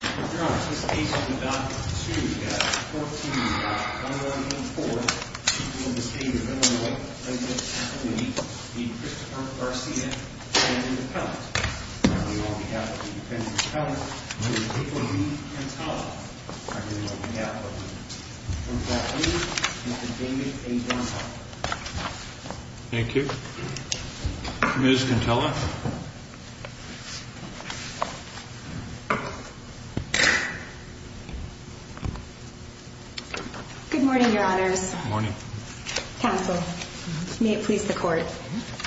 Now they won't have. Thank you. Miss, you can tell us. Good morning, your honors morning. Counsel, may it please the court.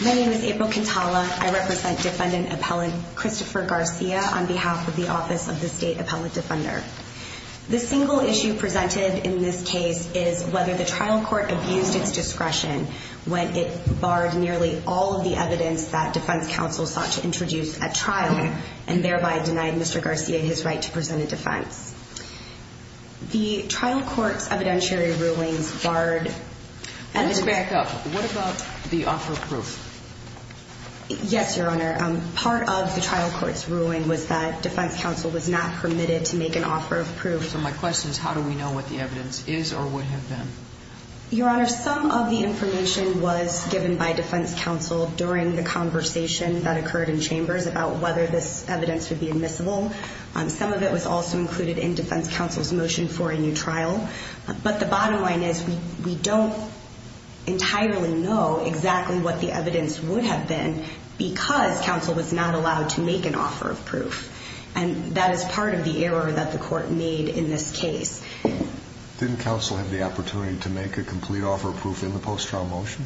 My name is April Contala. I represent defendant appellant, Christopher Garcia on behalf of the office of the state appellate defender. The single issue presented in this case is whether the trial court abused its discretion when it barred nearly all of the evidence that defense counsel sought to introduce at trial and thereby denied Mr. Garcia, his right to present a defense, the trial courts, evidentiary rulings barred and back up. What about the offer of proof? Yes, your honor. Um, part of the trial court's ruling was that defense counsel was not permitted to make an offer of proof. So my question is, how do we know what the evidence is or would have been? Your honor, some of the information was given by defense counsel during the conversation that occurred in chambers about whether this evidence would be admissible on some of it was also included in defense counsel's motion for a new trial, but the bottom line is we, we don't entirely know exactly what the evidence would have been because counsel was not allowed to make an offer of proof. And that is part of the error that the court made in this case. Didn't counsel have the opportunity to make a complete offer of proof in the post-trial motion?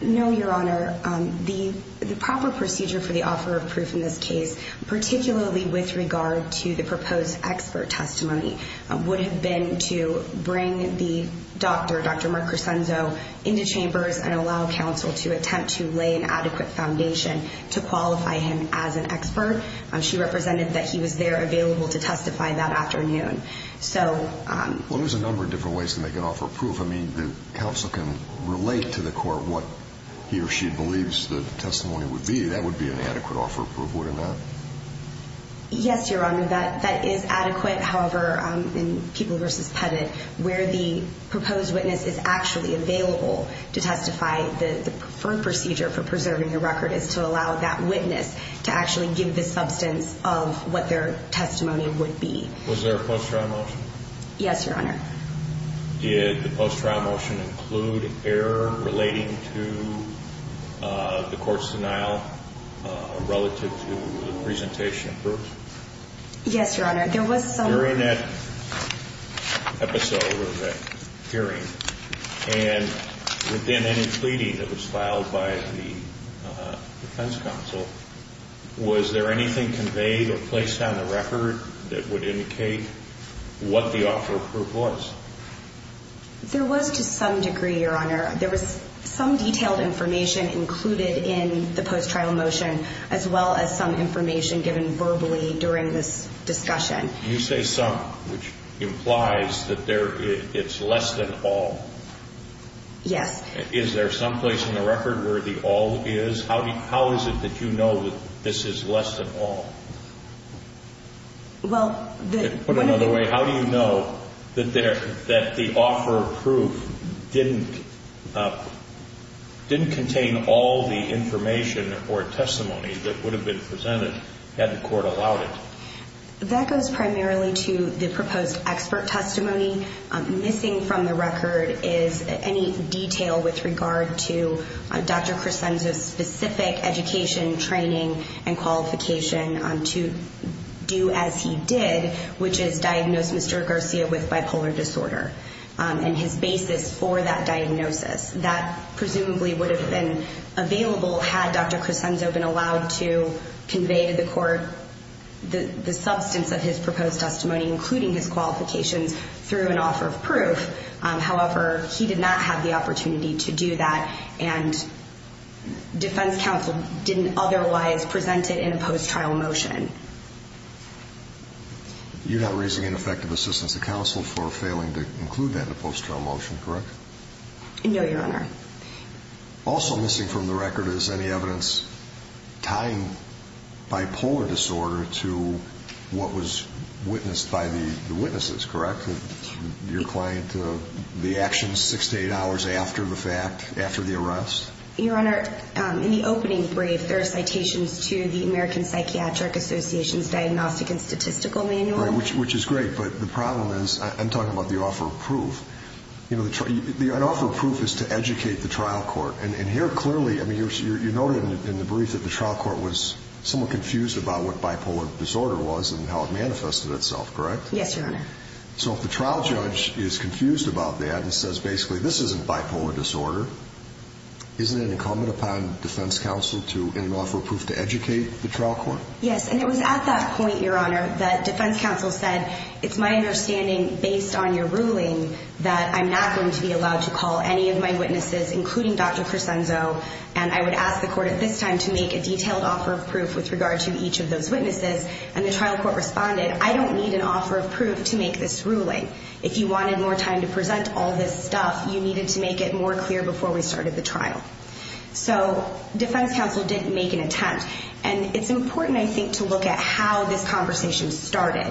No, your honor. Um, the, the proper procedure for the offer of proof in this case, particularly with regard to the proposed expert testimony, uh, would have been to bring the doctor, Dr. Mark Crescenzo into chambers and allow counsel to attempt to lay an adequate foundation to qualify him as an expert. Um, she represented that he was there available to testify that afternoon. So, um, I mean, the counsel can relate to the court, what he or she believes the testimony would be, that would be an adequate offer of proof. Wouldn't that? Yes, you're on that. That is adequate. However, um, in people versus Pettit, where the proposed witness is actually available to testify, the preferred procedure for preserving your record is to allow that witness to actually give the substance of what their testimony would be. Was there a post-trial motion? Yes, your honor. Did the post-trial motion include error relating to, uh, the court's denial, uh, relative to the presentation of proof? Yes, your honor. There was some episode of that hearing and within any pleading that was filed by the defense counsel, was there anything conveyed or placed on the record that would cause? There was to some degree, your honor, there was some detailed information included in the post-trial motion, as well as some information given verbally during this discussion. You say some, which implies that there, it's less than all. Yes. Is there some place in the record where the all is? How do you, how is it that you know that this is less than all? Well, put another way. How do you know that there, that the offer of proof didn't, uh, didn't contain all the information or testimony that would have been presented had the court allowed it? That goes primarily to the proposed expert testimony. Um, missing from the record is any detail with regard to Dr. which is diagnosed Mr. Garcia with bipolar disorder. Um, and his basis for that diagnosis that presumably would have been available had Dr. Crescenzo been allowed to convey to the court the substance of his proposed testimony, including his qualifications through an offer of proof. Um, however, he did not have the opportunity to do that and defense counsel didn't otherwise present it in a post-trial motion. You're not raising an effective assistance to counsel for failing to include that in a post-trial motion, correct? No, your Honor. Also missing from the record is any evidence tying bipolar disorder to what was witnessed by the witnesses, correct? Your client, uh, the actions six to eight hours after the fact, after the arrest. Your Honor, um, in the opening brief, there are citations to the American which is great, but the problem is I'm talking about the offer of proof, you know, the, the, an offer of proof is to educate the trial court and here clearly, I mean, you're, you're, you're noted in the brief that the trial court was somewhat confused about what bipolar disorder was and how it manifested itself, correct? Yes, your Honor. So if the trial judge is confused about that and says, basically, this isn't bipolar disorder. Isn't it incumbent upon defense counsel to, in an offer of proof to educate the trial court? Yes. And it was at that point, your Honor, that defense counsel said, it's my understanding based on your ruling that I'm not going to be allowed to call any of my witnesses, including Dr. Crescenzo. And I would ask the court at this time to make a detailed offer of proof with regard to each of those witnesses. And the trial court responded, I don't need an offer of proof to make this ruling. If you wanted more time to present all this stuff, you needed to make it more clear before we started the trial. So defense counsel didn't make an attempt. And it's important, I think, to look at how this conversation started.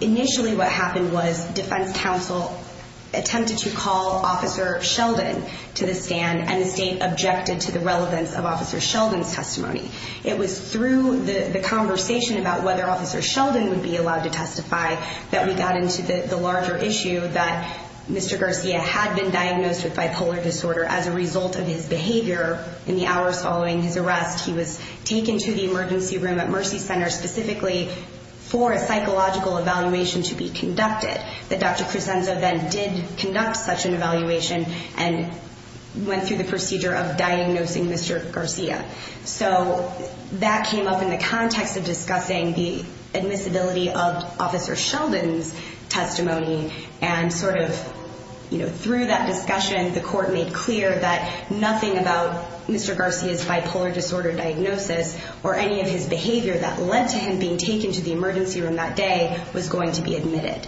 Initially, what happened was defense counsel attempted to call Officer Sheldon to the stand and the state objected to the relevance of Officer Sheldon's testimony. It was through the conversation about whether Officer Sheldon would be allowed to testify that we got into the larger issue that Mr. Garcia had been diagnosed with bipolar disorder as a result of his behavior in the hours following his arrest. He was taken to the emergency room at Mercy Center specifically for a psychological evaluation to be conducted. That Dr. Crescenzo then did conduct such an evaluation and went through the procedure of diagnosing Mr. Garcia. So that came up in the context of discussing the admissibility of Officer Sheldon's testimony. And sort of, you know, through that discussion, the court made clear that nothing about Mr. Garcia's bipolar disorder diagnosis or any of his behavior that led to him being taken to the emergency room that day was going to be admitted.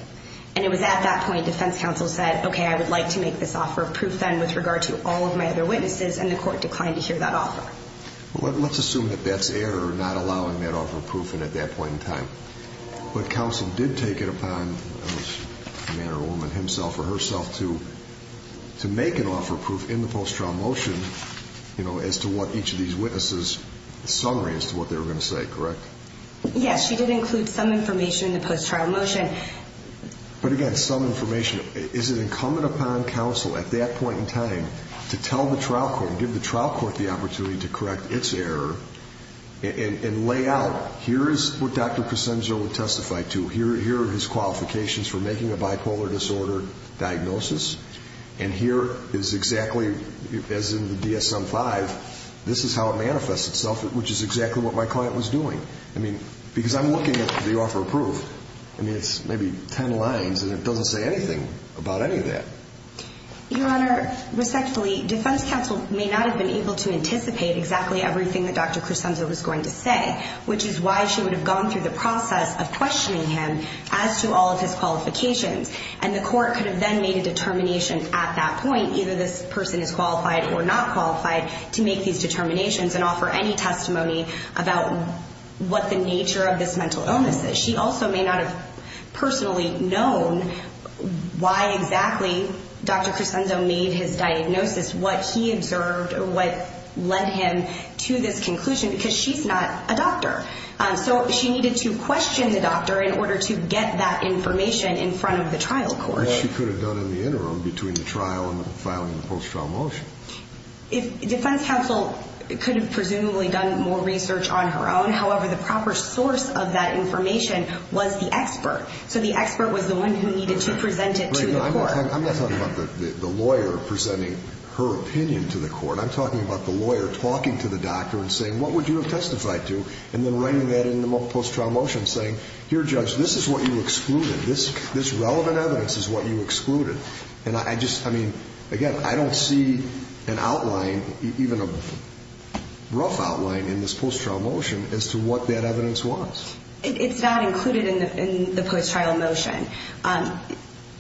And it was at that point defense counsel said, okay, I would like to make this offer of proof then with regard to all of my other witnesses. And the court declined to hear that offer. Well, let's assume that that's error, not allowing that offer of proof. And at that point in time, but counsel did take it upon a man or a woman himself or herself to, to make an offer of proof in the post-trial motion, you know, as to what each of these witnesses summary as to what they were going to say, correct? Yes. She did include some information in the post-trial motion. But again, some information, is it incumbent upon counsel at that point in time to tell the trial court and give the trial court the opportunity to correct its error and lay out here is what Dr. Crescenzo would testify to here, here are his qualifications for making a bipolar disorder diagnosis. And here is exactly as in the DSM-5, this is how it manifests itself, which is exactly what my client was doing. I mean, because I'm looking at the offer of proof, I mean, it's maybe 10 lines and it doesn't say anything about any of that. Your honor, respectfully, defense counsel may not have been able to anticipate exactly everything that Dr. Crescenzo was going to say, which is why she would have gone through the process of questioning him as to all of his qualifications. And the court could have then made a determination at that point, either this person is qualified or not qualified to make these determinations and offer any testimony about what the nature of this mental illness is. She also may not have personally known why exactly Dr. Crescenzo made his diagnosis, what he observed or what led him to this conclusion because she's not a doctor. So she needed to question the doctor in order to get that information in front of the trial court. What she could have done in the interim between the trial and the filing of the post-trial motion. If defense counsel could have presumably done more research on her own, however, the proper source of that information was the expert. So the expert was the one who needed to present it to the court. I'm not talking about the lawyer presenting her opinion to the court. I'm talking about the lawyer talking to the doctor and saying, what would you have testified to? And then writing that in the post-trial motion saying, here, judge, this is what you excluded. This, this relevant evidence is what you excluded. And I just, I mean, again, I don't see an outline, even a rough outline in this post-trial motion as to what that evidence was. It's not included in the post-trial motion.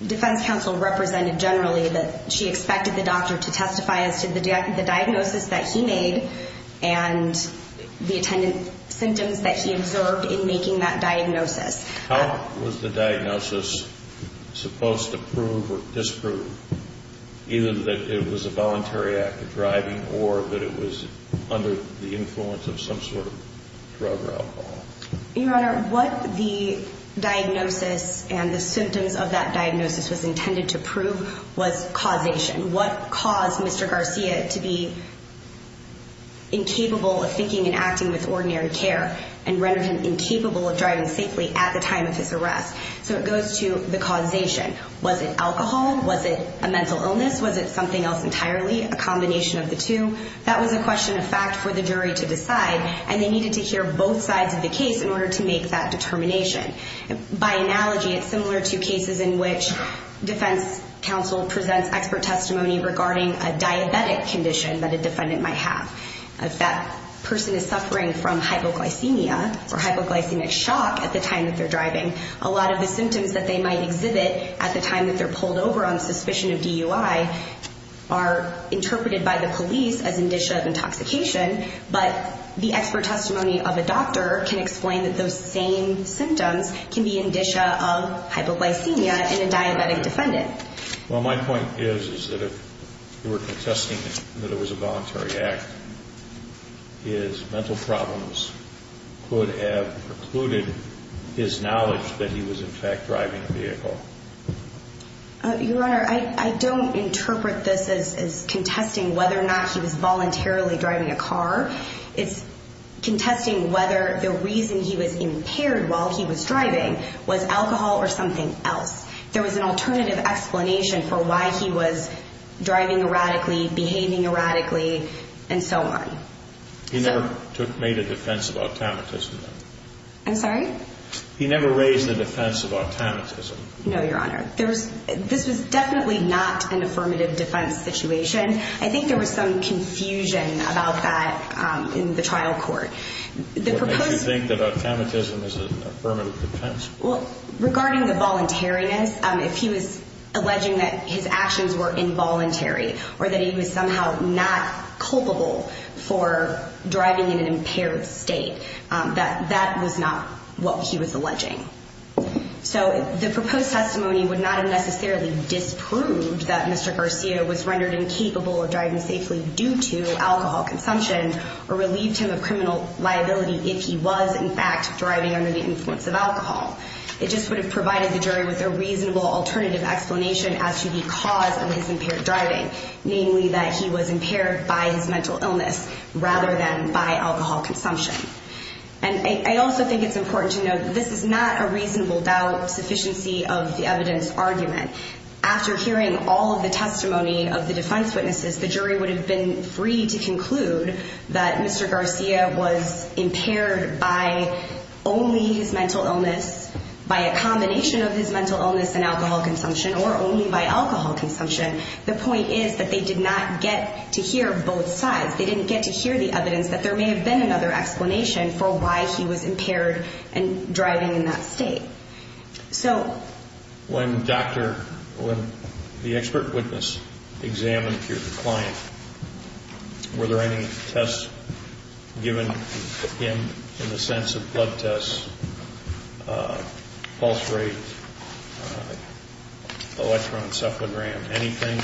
Defense counsel represented generally that she expected the doctor to testify as to the diagnosis that he made and the attendant symptoms that he observed in making that diagnosis. How was the diagnosis supposed to prove or disprove either that it was a voluntary act of driving or that it was under the influence of some sort of drug or alcohol? Your Honor, what the diagnosis and the symptoms of that diagnosis was intended to prove was causation. What caused Mr. Garcia to be incapable of thinking and acting with ordinary care and rendered him incapable of driving safely at the time of his arrest. So it goes to the causation. Was it alcohol? Was it a mental illness? Was it something else entirely? A combination of the two? That was a question of fact for the jury to decide, and they needed to hear both sides of the case in order to make that determination. By analogy, it's similar to cases in which defense counsel presents expert testimony regarding a diabetic condition that a defendant might have. If that person is suffering from hypoglycemia or hypoglycemic shock at the time that they're driving, a lot of the symptoms that they might exhibit at the time that they're pulled over on suspicion of DUI are interpreted by the police as indicia of intoxication, but the expert testimony of a doctor can explain that those same symptoms can be indicia of hypoglycemia in a diabetic defendant. Well, my point is, is that if you were contesting that it was a voluntary act, his mental problems could have precluded his knowledge that he was in fact driving a vehicle. Your Honor, I don't interpret this as contesting whether or not he was voluntarily driving a car. It's contesting whether the reason he was impaired while he was driving was alcohol or something else. There was an alternative explanation for why he was driving erratically, behaving erratically, and so on. He never made a defense of automatism, though. I'm sorry? He never raised the defense of automatism. No, Your Honor. There was, this was definitely not an affirmative defense situation. I think there was some confusion about that in the trial court. What made you think that automatism is an affirmative defense? Well, regarding the voluntariness, if he was alleging that his actions were involuntary or that he was somehow not culpable for driving in an impaired state, that that was not what he was alleging. So the proposed testimony would not have necessarily disproved that Mr. Garcia was rendered incapable of driving safely due to alcohol consumption or relieved him of criminal liability if he was in fact driving under the influence of alcohol. It just would have provided the jury with a reasonable alternative explanation as to the cause of his impaired driving, namely that he was impaired by his mental illness rather than by alcohol consumption. And I also think it's important to note that this is not a reasonable doubt sufficiency of the evidence argument. After hearing all of the testimony of the defense witnesses, the jury would have been free to conclude that Mr. Garcia was impaired by only his mental illness, by a combination of his mental illness and alcohol consumption, or only by alcohol consumption. The point is that they did not get to hear both sides. They didn't get to hear the evidence that there may have been another explanation for why he was impaired and driving in that state. So... When the expert witness examined your client, were there any tests given him in the sense of blood tests, pulse rate, electroencephalogram, anything?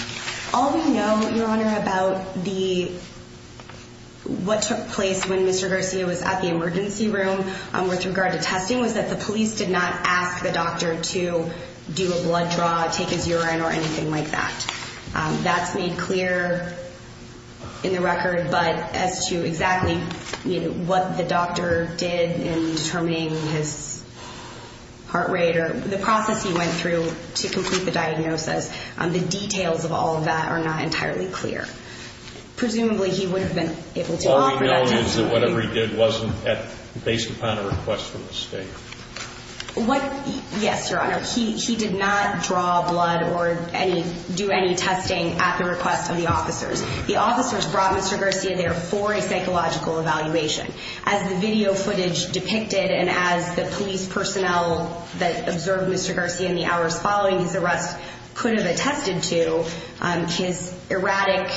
All we know, Your Honor, about what took place when Mr. Garcia was at the emergency room with regard to testing was that the police did not ask the doctor to do a blood draw, take his urine or anything like that. That's made clear in the record. But as to exactly what the doctor did in determining his heart rate or the process he went through to complete the diagnosis, the details of all of that are not entirely clear. Presumably he would have been able to offer that testimony. All we know is that whatever he did wasn't based upon a request for the state. What? Yes, Your Honor. He did not draw blood or do any testing at the request of the officers. The officers brought Mr. Garcia there for a psychological evaluation. As the video footage depicted and as the police personnel that observed Mr. Garcia in the hours following his arrest could have attested to, his erratic,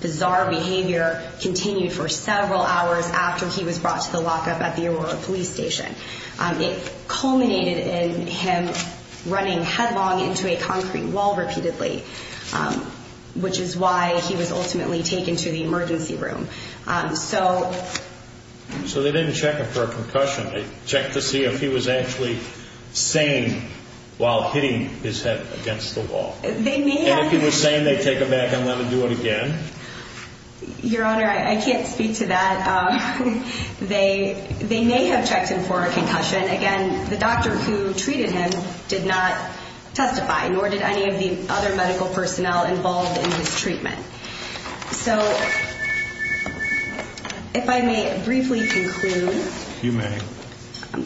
bizarre behavior continued for several hours after he was brought to the lockup at the Aurora police station. It culminated in him running headlong into a concrete wall repeatedly, which is why he was ultimately taken to the emergency room. So they didn't check him for a concussion, they checked to see if he was actually sane while hitting his head against the wall, and if he was sane, they take him back and let him do it again? Your Honor, I can't speak to that. They, they may have checked him for a concussion. Again, the doctor who treated him did not testify, nor did any of the other medical personnel involved in his treatment. So if I may briefly conclude. You may.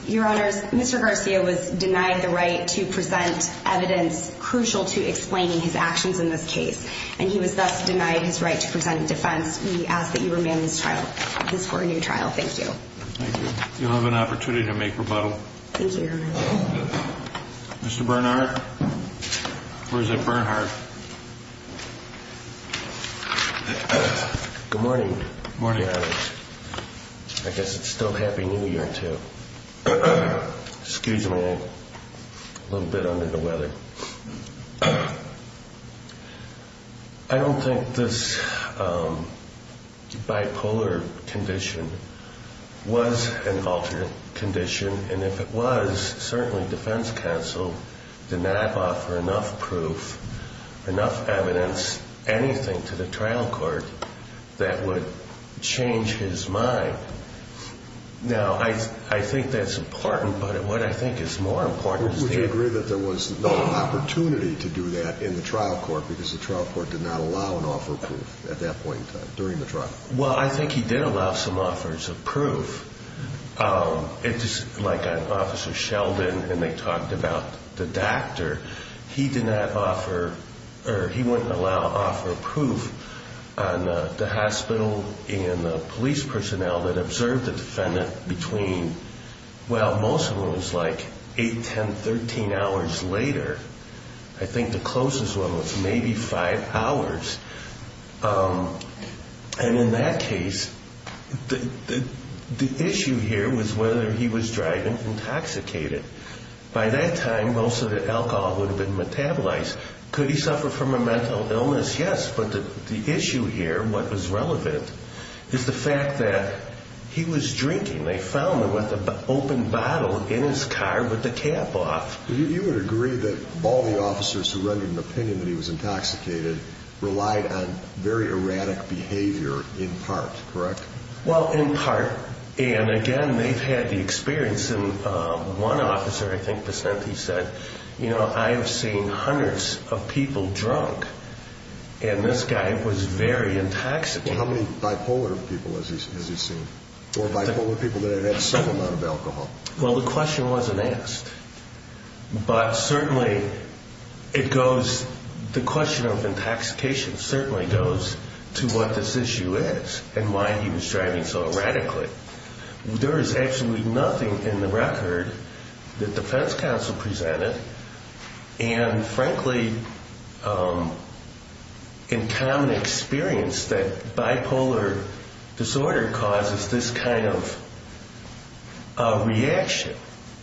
Your Honors, Mr. Garcia was denied the right to present evidence crucial to explaining his actions in this case. And he was thus denied his right to present defense. We ask that you remain in this trial. This is for a new trial. Thank you. You'll have an opportunity to make rebuttal. Thank you, Your Honor. Mr. Bernhardt, or is it Bernhardt? Good morning. Good morning, Your Honor. I guess it's still Happy New Year, too. Excuse me, a little bit under the weather. I don't think this bipolar condition was an alternate condition. And if it was, certainly defense counsel did not offer enough proof, enough evidence, anything to the trial court that would change his mind. Now I, I think that's important, but what I think is more important is the- There was no opportunity to do that in the trial court because the trial court did not allow an offer of proof at that point in time, during the trial. Well, I think he did allow some offers of proof. It's just like Officer Sheldon, and they talked about the doctor. He did not offer, or he wouldn't allow offer of proof on the hospital and the police personnel that observed the defendant between, well, most of them was like eight, 10, 13 hours later. I think the closest one was maybe five hours. And in that case, the issue here was whether he was driving intoxicated. By that time, most of the alcohol would have been metabolized. Could he suffer from a mental illness? Yes. But the issue here, what was relevant is the fact that he was drinking. They found him with an open bottle in his car with the cap off. You would agree that all the officers who rendered an opinion that he was intoxicated relied on very erratic behavior in part, correct? Well, in part, and again, they've had the experience. And one officer, I think DeSantis said, you know, I have seen hundreds of people drunk, and this guy was very intoxicated. How many bipolar people has he seen? Or bipolar people that have had some amount of alcohol? Well, the question wasn't asked, but certainly it goes, the question of intoxication certainly goes to what this issue is and why he was driving so erratically. There is absolutely nothing in the record that defense counsel presented. And frankly, in common experience, that bipolar disorder causes this kind of reaction,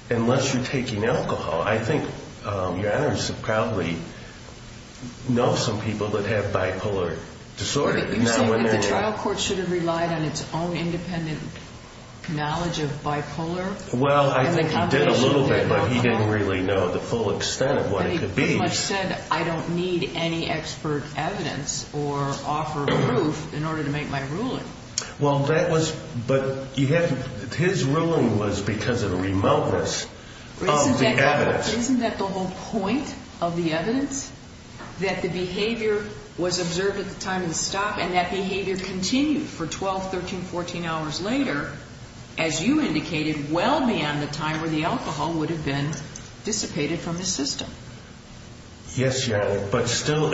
unless you're taking alcohol. I think your Honor should probably know some people that have bipolar disorder. But you say that the trial court should have relied on its own independent knowledge of bipolar? Well, I think he did a little bit, but he didn't really know the full extent of what it could be. But he pretty much said, I don't need any expert evidence or offer proof in order to make my ruling. Well, that was, but you have, his ruling was because of the remoteness of the evidence. Isn't that the whole point of the evidence? That the behavior was observed at the time of the stop and that behavior continued for 12, 13, 14 hours later, as you indicated, well beyond the time where the alcohol would have been dissipated from the system. Yes, Your Honor, but still,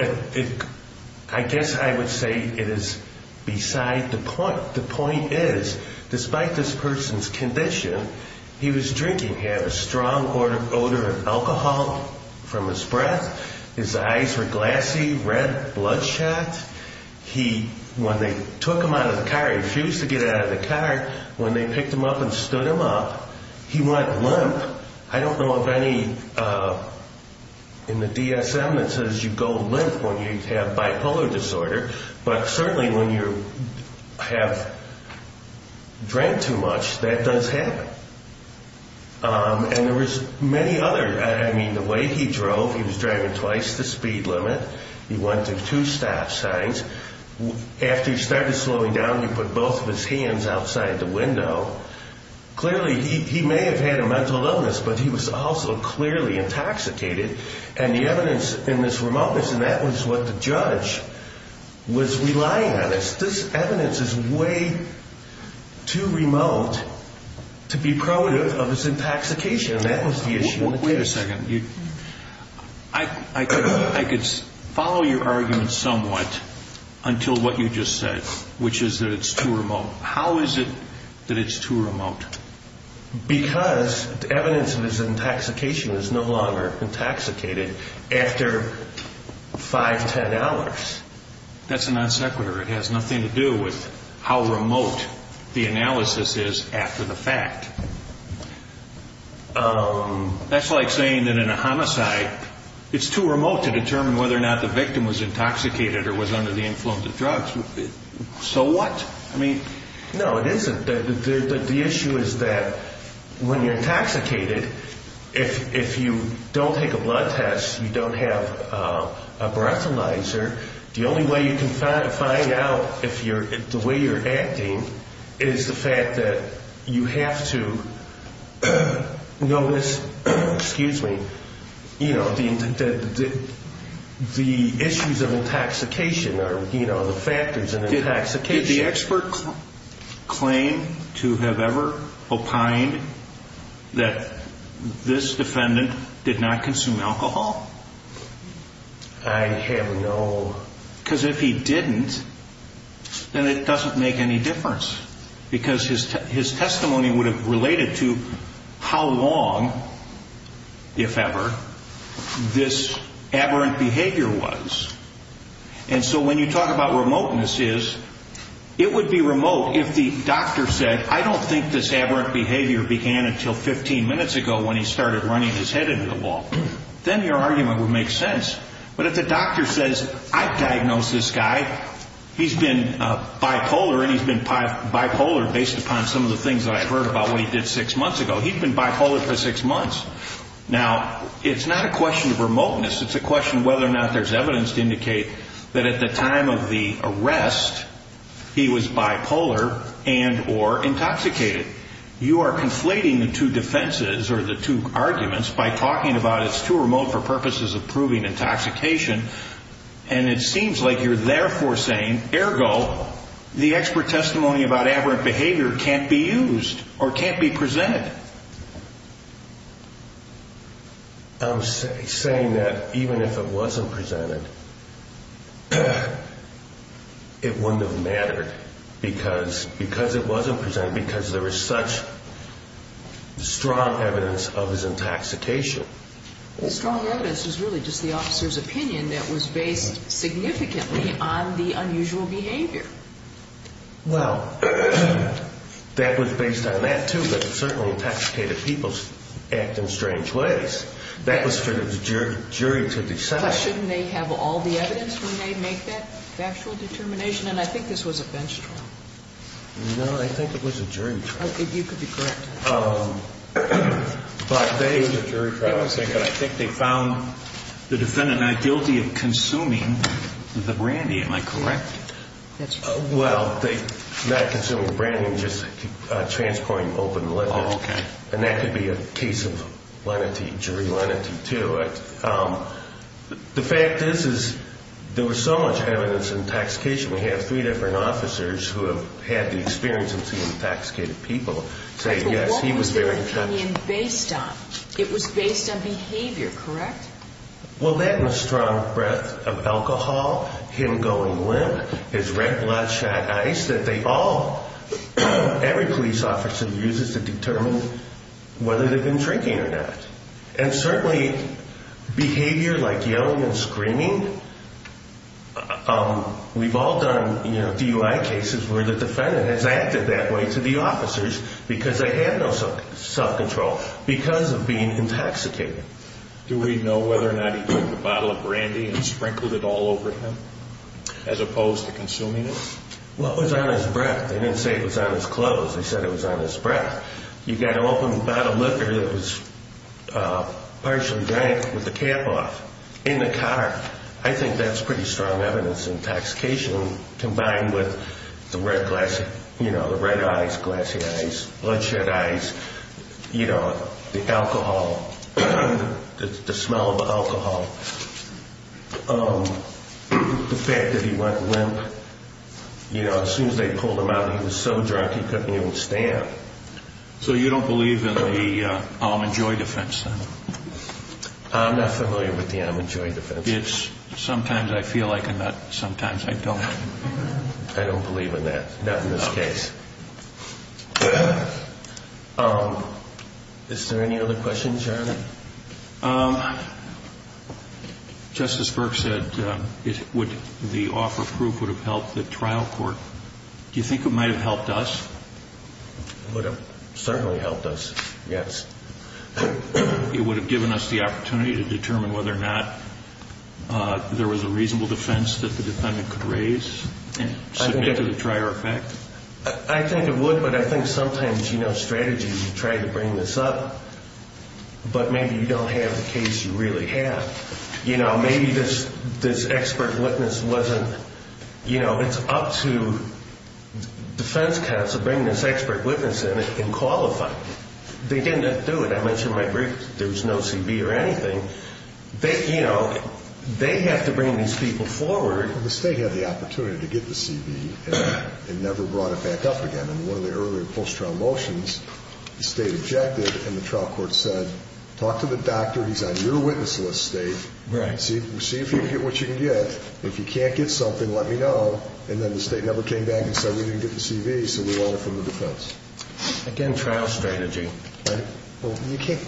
I guess I would say it is beside the point. The point is, despite this person's condition, he was drinking, had a strong odor of alcohol from his breath. His eyes were glassy, red, bloodshot. He, when they took him out of the car, he refused to get out of the car. When they picked him up and stood him up, he went limp. I don't know of any, in the DSM that says you go limp when you have bipolar disorder. But certainly when you have drank too much, that does happen. And there was many other, I mean, the way he drove, he was driving twice the speed limit. He went through two stop signs. After he started slowing down, he put both of his hands outside the window. Clearly, he may have had a mental illness, but he was also clearly intoxicated. And the evidence in this remoteness, and that was what the judge was relying on us. This evidence is way too remote to be proud of his intoxication. And that was the issue. Wait a second. I could follow your argument somewhat until what you just said, which is that it's too remote. How is it that it's too remote? Because the evidence of his intoxication is no longer intoxicated after five, ten hours. That's a non sequitur. It has nothing to do with how remote the analysis is after the fact. That's like saying that in a homicide, it's too remote to determine whether or not the victim was intoxicated or was under the influence of drugs. So what? I mean, no, it isn't. The issue is that when you're intoxicated, if you don't take a blood test, you don't have a breathalyzer. The only way you can find out if the way you're acting is the fact that you have to notice, excuse me, you know, the issues of intoxication or, you know, the factors of intoxication. Did the expert claim to have ever opined that this defendant did not consume alcohol? I have no. Because if he didn't, then it doesn't make any difference because his testimony would have related to how long, if ever, this aberrant behavior was. And so when you talk about remoteness is, it would be remote if the doctor said, I don't think this aberrant behavior began until 15 minutes ago when he started running his head into the wall. Then your argument would make sense. But if the doctor says, I've diagnosed this guy, he's been bipolar and he's been bipolar based upon some of the things that I've heard about what he did six months ago, he's been bipolar for six months. Now, it's not a question of remoteness. It's a question of whether or not there's evidence to indicate that at the time of the arrest, he was bipolar and or intoxicated. You are conflating the two defenses or the two arguments by talking about it's too remote for purposes of proving intoxication. And it seems like you're therefore saying, ergo, the expert testimony about aberrant behavior can't be used or can't be presented. I'm saying that even if it wasn't presented, it wouldn't have mattered because because it wasn't presented, because there is such strong evidence of his intoxication. The strong evidence is really just the officer's opinion that was based significantly on the unusual behavior. Well, that was based on that, too, but certainly intoxicated people act in strange ways. That was for the jury to decide. Plus, shouldn't they have all the evidence when they make that factual determination? And I think this was a bench trial. No, I think it was a jury trial. You could be correct. It was a jury trial. Give me a second. I think they found the defendant not guilty of consuming the brandy. Am I correct? Well, not consuming the brandy, just transporting open liquor. Oh, okay. And that could be a case of lenity, jury lenity, too. The fact is, is there was so much evidence intoxication. We have three different officers who have had the experience of seeing intoxicated people say, yes, he was very intoxicated. But what was their opinion based on? It was based on behavior, correct? Well, that and the strong breath of alcohol, him going limp, his red bloodshot eyes, that they all, every police officer uses to determine whether they've been drinking or not. And certainly behavior like yelling and screaming, we've all done DUI cases where the defendant has acted that way to the officers because they have no self-control, because of being intoxicated. Do we know whether or not he took a bottle of brandy and sprinkled it all over him, as opposed to consuming it? Well, it was on his breath. They didn't say it was on his clothes. They said it was on his breath. You've got to open the bottle of liquor that was partially drank with the cap off in the car. I think that's pretty strong evidence of intoxication combined with the red eyes, glassy eyes, bloodshot eyes, the alcohol, the smell of alcohol, the fact that he went limp. As soon as they pulled him out, he was so drunk he couldn't even stand. So you don't believe in the Almond Joy defense, then? I'm not familiar with the Almond Joy defense. Sometimes I feel like it, sometimes I don't. I don't believe in that, not in this case. Is there any other questions, Charlie? Justice Burke said the offer of proof would have helped the trial court. Do you think it might have helped us? It would have certainly helped us, yes. It would have given us the opportunity to determine whether or not there was a reasonable defense that the defendant could raise and submit to the trier effect? I think it would, but I think sometimes, you know, strategy, you try to bring this up. But maybe you don't have the case you really have. You know, maybe this expert witness wasn't, you know, it's up to defense counsel to bring this expert witness in and qualify. They didn't have to do it. I mentioned my brief, there was no CB or anything. You know, they have to bring these people forward. The state had the opportunity to get the CB and never brought it back up again. In one of the earlier post-trial motions, the state objected and the trial court said, talk to the doctor, he's on your witness list, state. See if you can get what you can get. If you can't get something, let me know. And then the state never came back and said we didn't get the CB, so we want it from the defense. Again, trial strategy. Well, you can't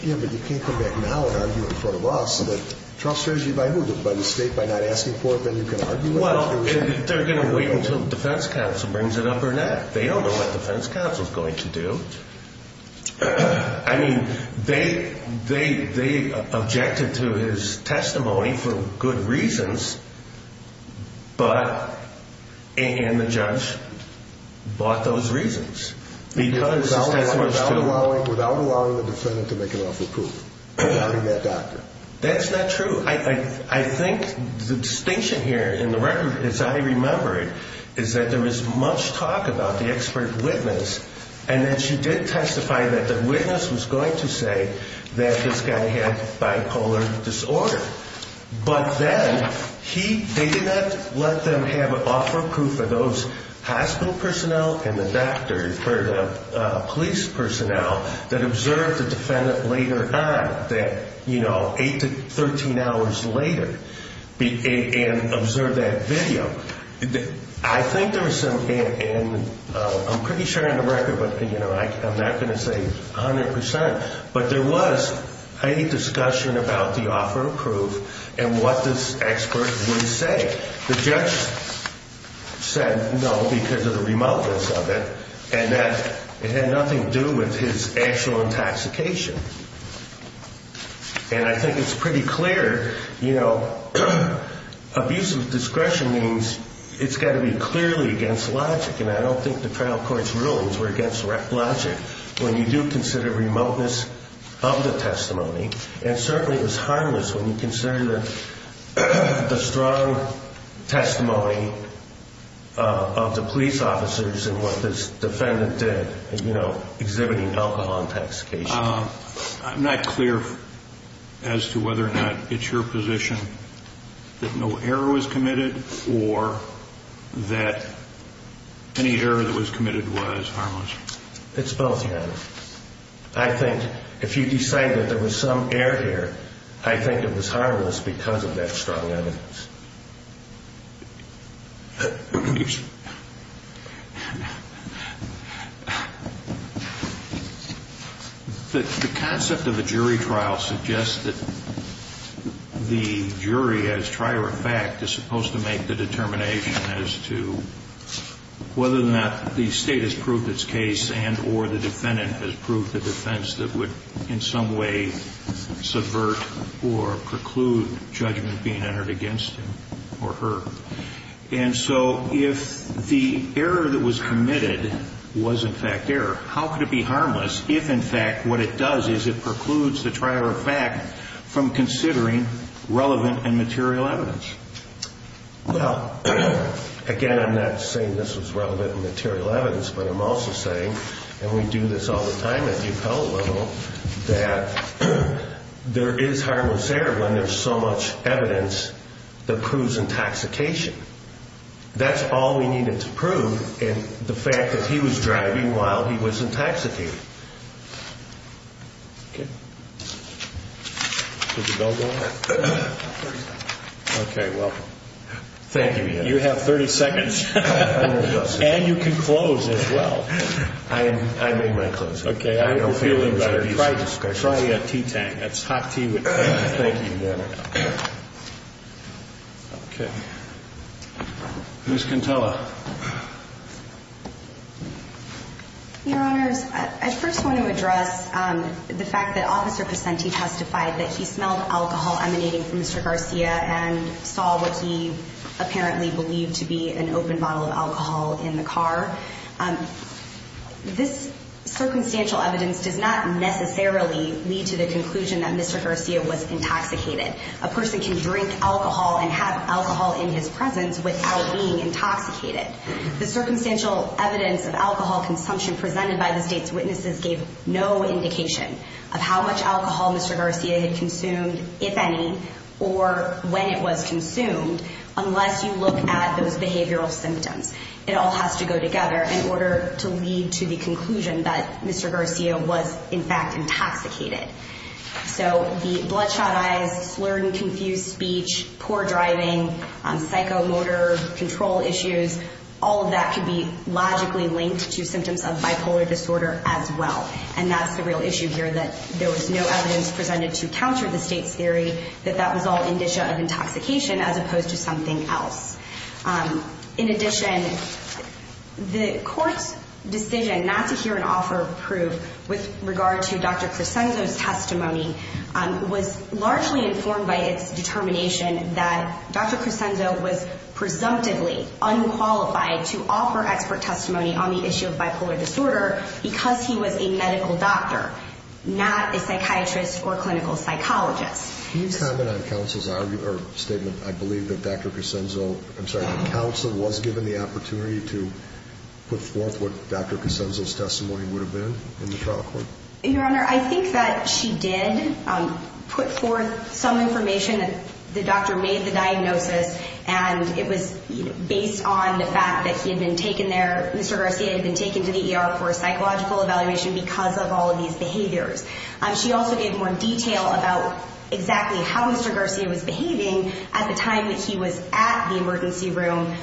come back now and argue in front of us. But trial strategy by who? By the state by not asking for it, then you can argue it? Well, they're going to wait until the defense counsel brings it up or not. They don't know what the defense counsel is going to do. I mean, they objected to his testimony for good reasons, but and the judge bought those reasons. Without allowing the defendant to make an offer of proof, without having that doctor. That's not true. I think the distinction here in the record, as I remember it, is that there was much talk about the expert witness, and that she did testify that the witness was going to say that this guy had bipolar disorder. But then he, they did not let them have an offer of proof for those hospital personnel and the doctors or the police personnel that observed the defendant later on, that, you know, eight to 13 hours later and observed that video. I think there was some, and I'm pretty sure in the record, but, you know, I'm not going to say 100%, but there was a discussion about the offer of proof and what this expert would say. The judge said no because of the remoteness of it and that it had nothing to do with his actual intoxication. And I think it's pretty clear, you know, abusive discretion means it's got to be clearly against logic. And I don't think the trial court's rulings were against logic when you do consider remoteness of the testimony. And certainly it was harmless when you consider the strong testimony of the police officers and what this defendant did, you know, exhibiting alcohol intoxication. I'm not clear as to whether or not it's your position that no error was committed or that any error that was committed was harmless. It's both, Your Honor. I think if you decide that there was some error here, I think it was harmless because of that strong evidence. The concept of a jury trial suggests that the jury, as prior effect, is supposed to make the determination as to whether or not the state has proved its case and or the defendant has proved the defense that would in some way subvert or preclude judgment being entered against him or her. And so if the error that was committed was, in fact, error, how could it be harmless if, in fact, what it does is it precludes the prior effect from considering relevant and material evidence? Well, again, I'm not saying this was relevant and material evidence, but I'm also saying, and we do this all the time at the appellate level, that there is harmless error when there's so much evidence that proves intoxication. That's all we needed to prove in the fact that he was driving while he was intoxicated. Okay. Did the bell go off? Okay, well, thank you, Your Honor. You have 30 seconds. And you can close as well. I made my closing. Okay. Try a tea tank. That's hot tea. Thank you, Your Honor. Okay. Ms. Quintella. Your Honors, I first want to address the fact that Officer Pacente testified that he smelled alcohol emanating from Mr. Garcia and saw what he apparently believed to be an open bottle of alcohol in the car. This circumstantial evidence does not necessarily lead to the conclusion that Mr. Garcia was intoxicated. A person can drink alcohol and have alcohol in his presence without being intoxicated. The circumstantial evidence of alcohol consumption presented by the State's witnesses gave no indication of how much alcohol Mr. Garcia had consumed, if any, or when it was consumed, unless you look at those behavioral symptoms. It all has to go together in order to lead to the conclusion that Mr. Garcia was, in fact, intoxicated. So the bloodshot eyes, slurred and confused speech, poor driving, psychomotor control issues, all of that could be logically linked to symptoms of bipolar disorder as well. And that's the real issue here, that there was no evidence presented to counter the State's theory that that was all indicia of intoxication as opposed to something else. In addition, the Court's decision not to hear an offer of proof with regard to Dr. Cresenzo's testimony was largely informed by its determination that Dr. Cresenzo was presumptively unqualified to offer expert testimony on the issue of bipolar disorder because he was a medical doctor, not a psychiatrist or clinical psychologist. Can you comment on counsel's argument, or statement, I believe, that Dr. Cresenzo, I'm sorry, that counsel was given the opportunity to put forth what Dr. Cresenzo's testimony would have been in the trial court? Your Honor, I think that she did put forth some information. The doctor made the diagnosis, and it was based on the fact that he had been taken there, Mr. Garcia had been taken to the ER for a psychological evaluation because of all of these behaviors. She also gave more detail about exactly how Mr. Garcia was behaving at the time that he was at the emergency room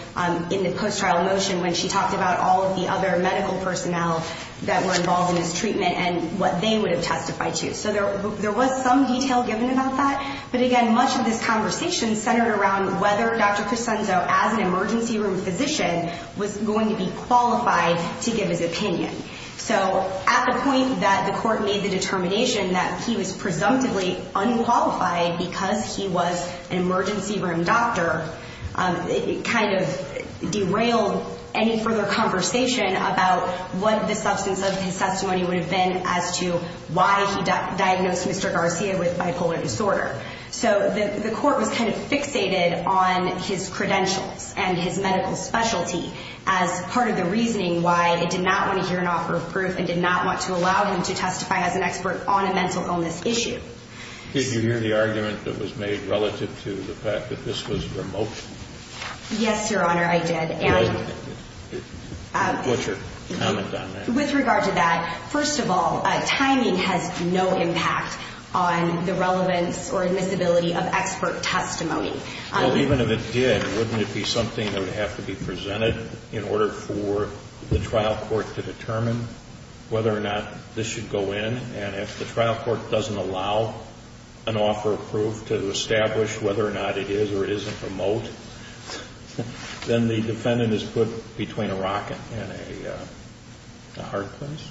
in the post-trial motion when she talked about all of the other medical personnel that were involved in his treatment and what they would have testified to. So there was some detail given about that, but again, much of this conversation centered around whether Dr. Cresenzo, as an emergency room physician, was going to be qualified to give his opinion. So at the point that the court made the determination that he was presumptively unqualified because he was an emergency room doctor, it kind of derailed any further conversation about what the substance of his testimony would have been as to why he diagnosed Mr. Garcia with bipolar disorder. So the court was kind of fixated on his credentials and his medical specialty as part of the reasoning why it did not want to hear an offer of proof and did not want to allow him to testify as an expert on a mental illness issue. Did you hear the argument that was made relative to the fact that this was a remotion? Yes, Your Honor, I did. And what's your comment on that? With regard to that, first of all, timing has no impact on the relevance or admissibility of expert testimony. Well, even if it did, wouldn't it be something that would have to be presented in order for the trial court to determine whether or not this should go in? And if the trial court doesn't allow an offer of proof to establish whether or not it is or isn't remote, then the defendant is put between a rock and a hard place?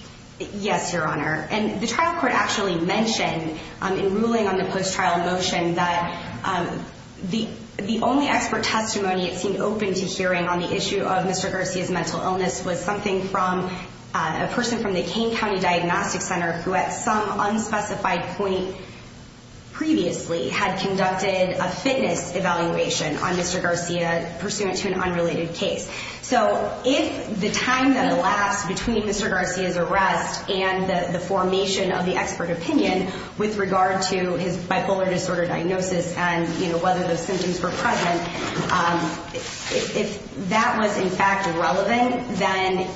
Yes, Your Honor. And the trial court actually mentioned in ruling on the post-trial motion that the only expert testimony it seemed open to hearing on the issue of Mr. Garcia's mental illness was something from a person from the Kane County Diagnostic Center who at some unspecified point previously had conducted a fitness evaluation on Mr. Garcia pursuant to an unrelated case. So if the time that elapsed between Mr. Garcia's arrest and the formation of the expert opinion with regard to his bipolar disorder diagnosis and whether those symptoms were present, if that was in fact relevant, then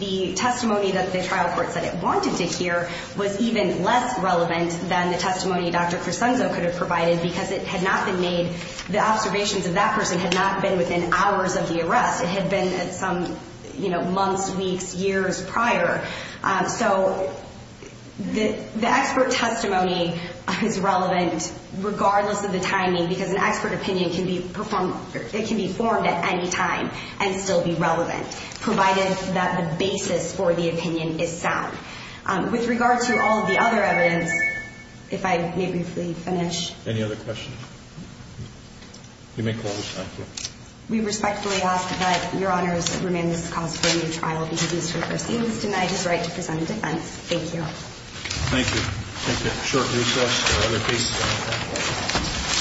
the testimony that the trial court said it wanted to hear was even less relevant than the testimony Dr. Cresenzo could have provided because the observations of that person had not been within hours of the arrest. It had been some months, weeks, years prior. So the expert testimony is relevant regardless of the timing because an expert opinion can be formed at any time and still be relevant, provided that the basis for the opinion is sound. With regard to all of the other evidence, if I may briefly finish. Any other questions? You may close. Thank you. We respectfully ask that Your Honor's remand this is caused for a new trial because Mr. Garcia was denied his right to present a defense. Thank you. Thank you. Thank you. A short recess. There are other cases on the panel.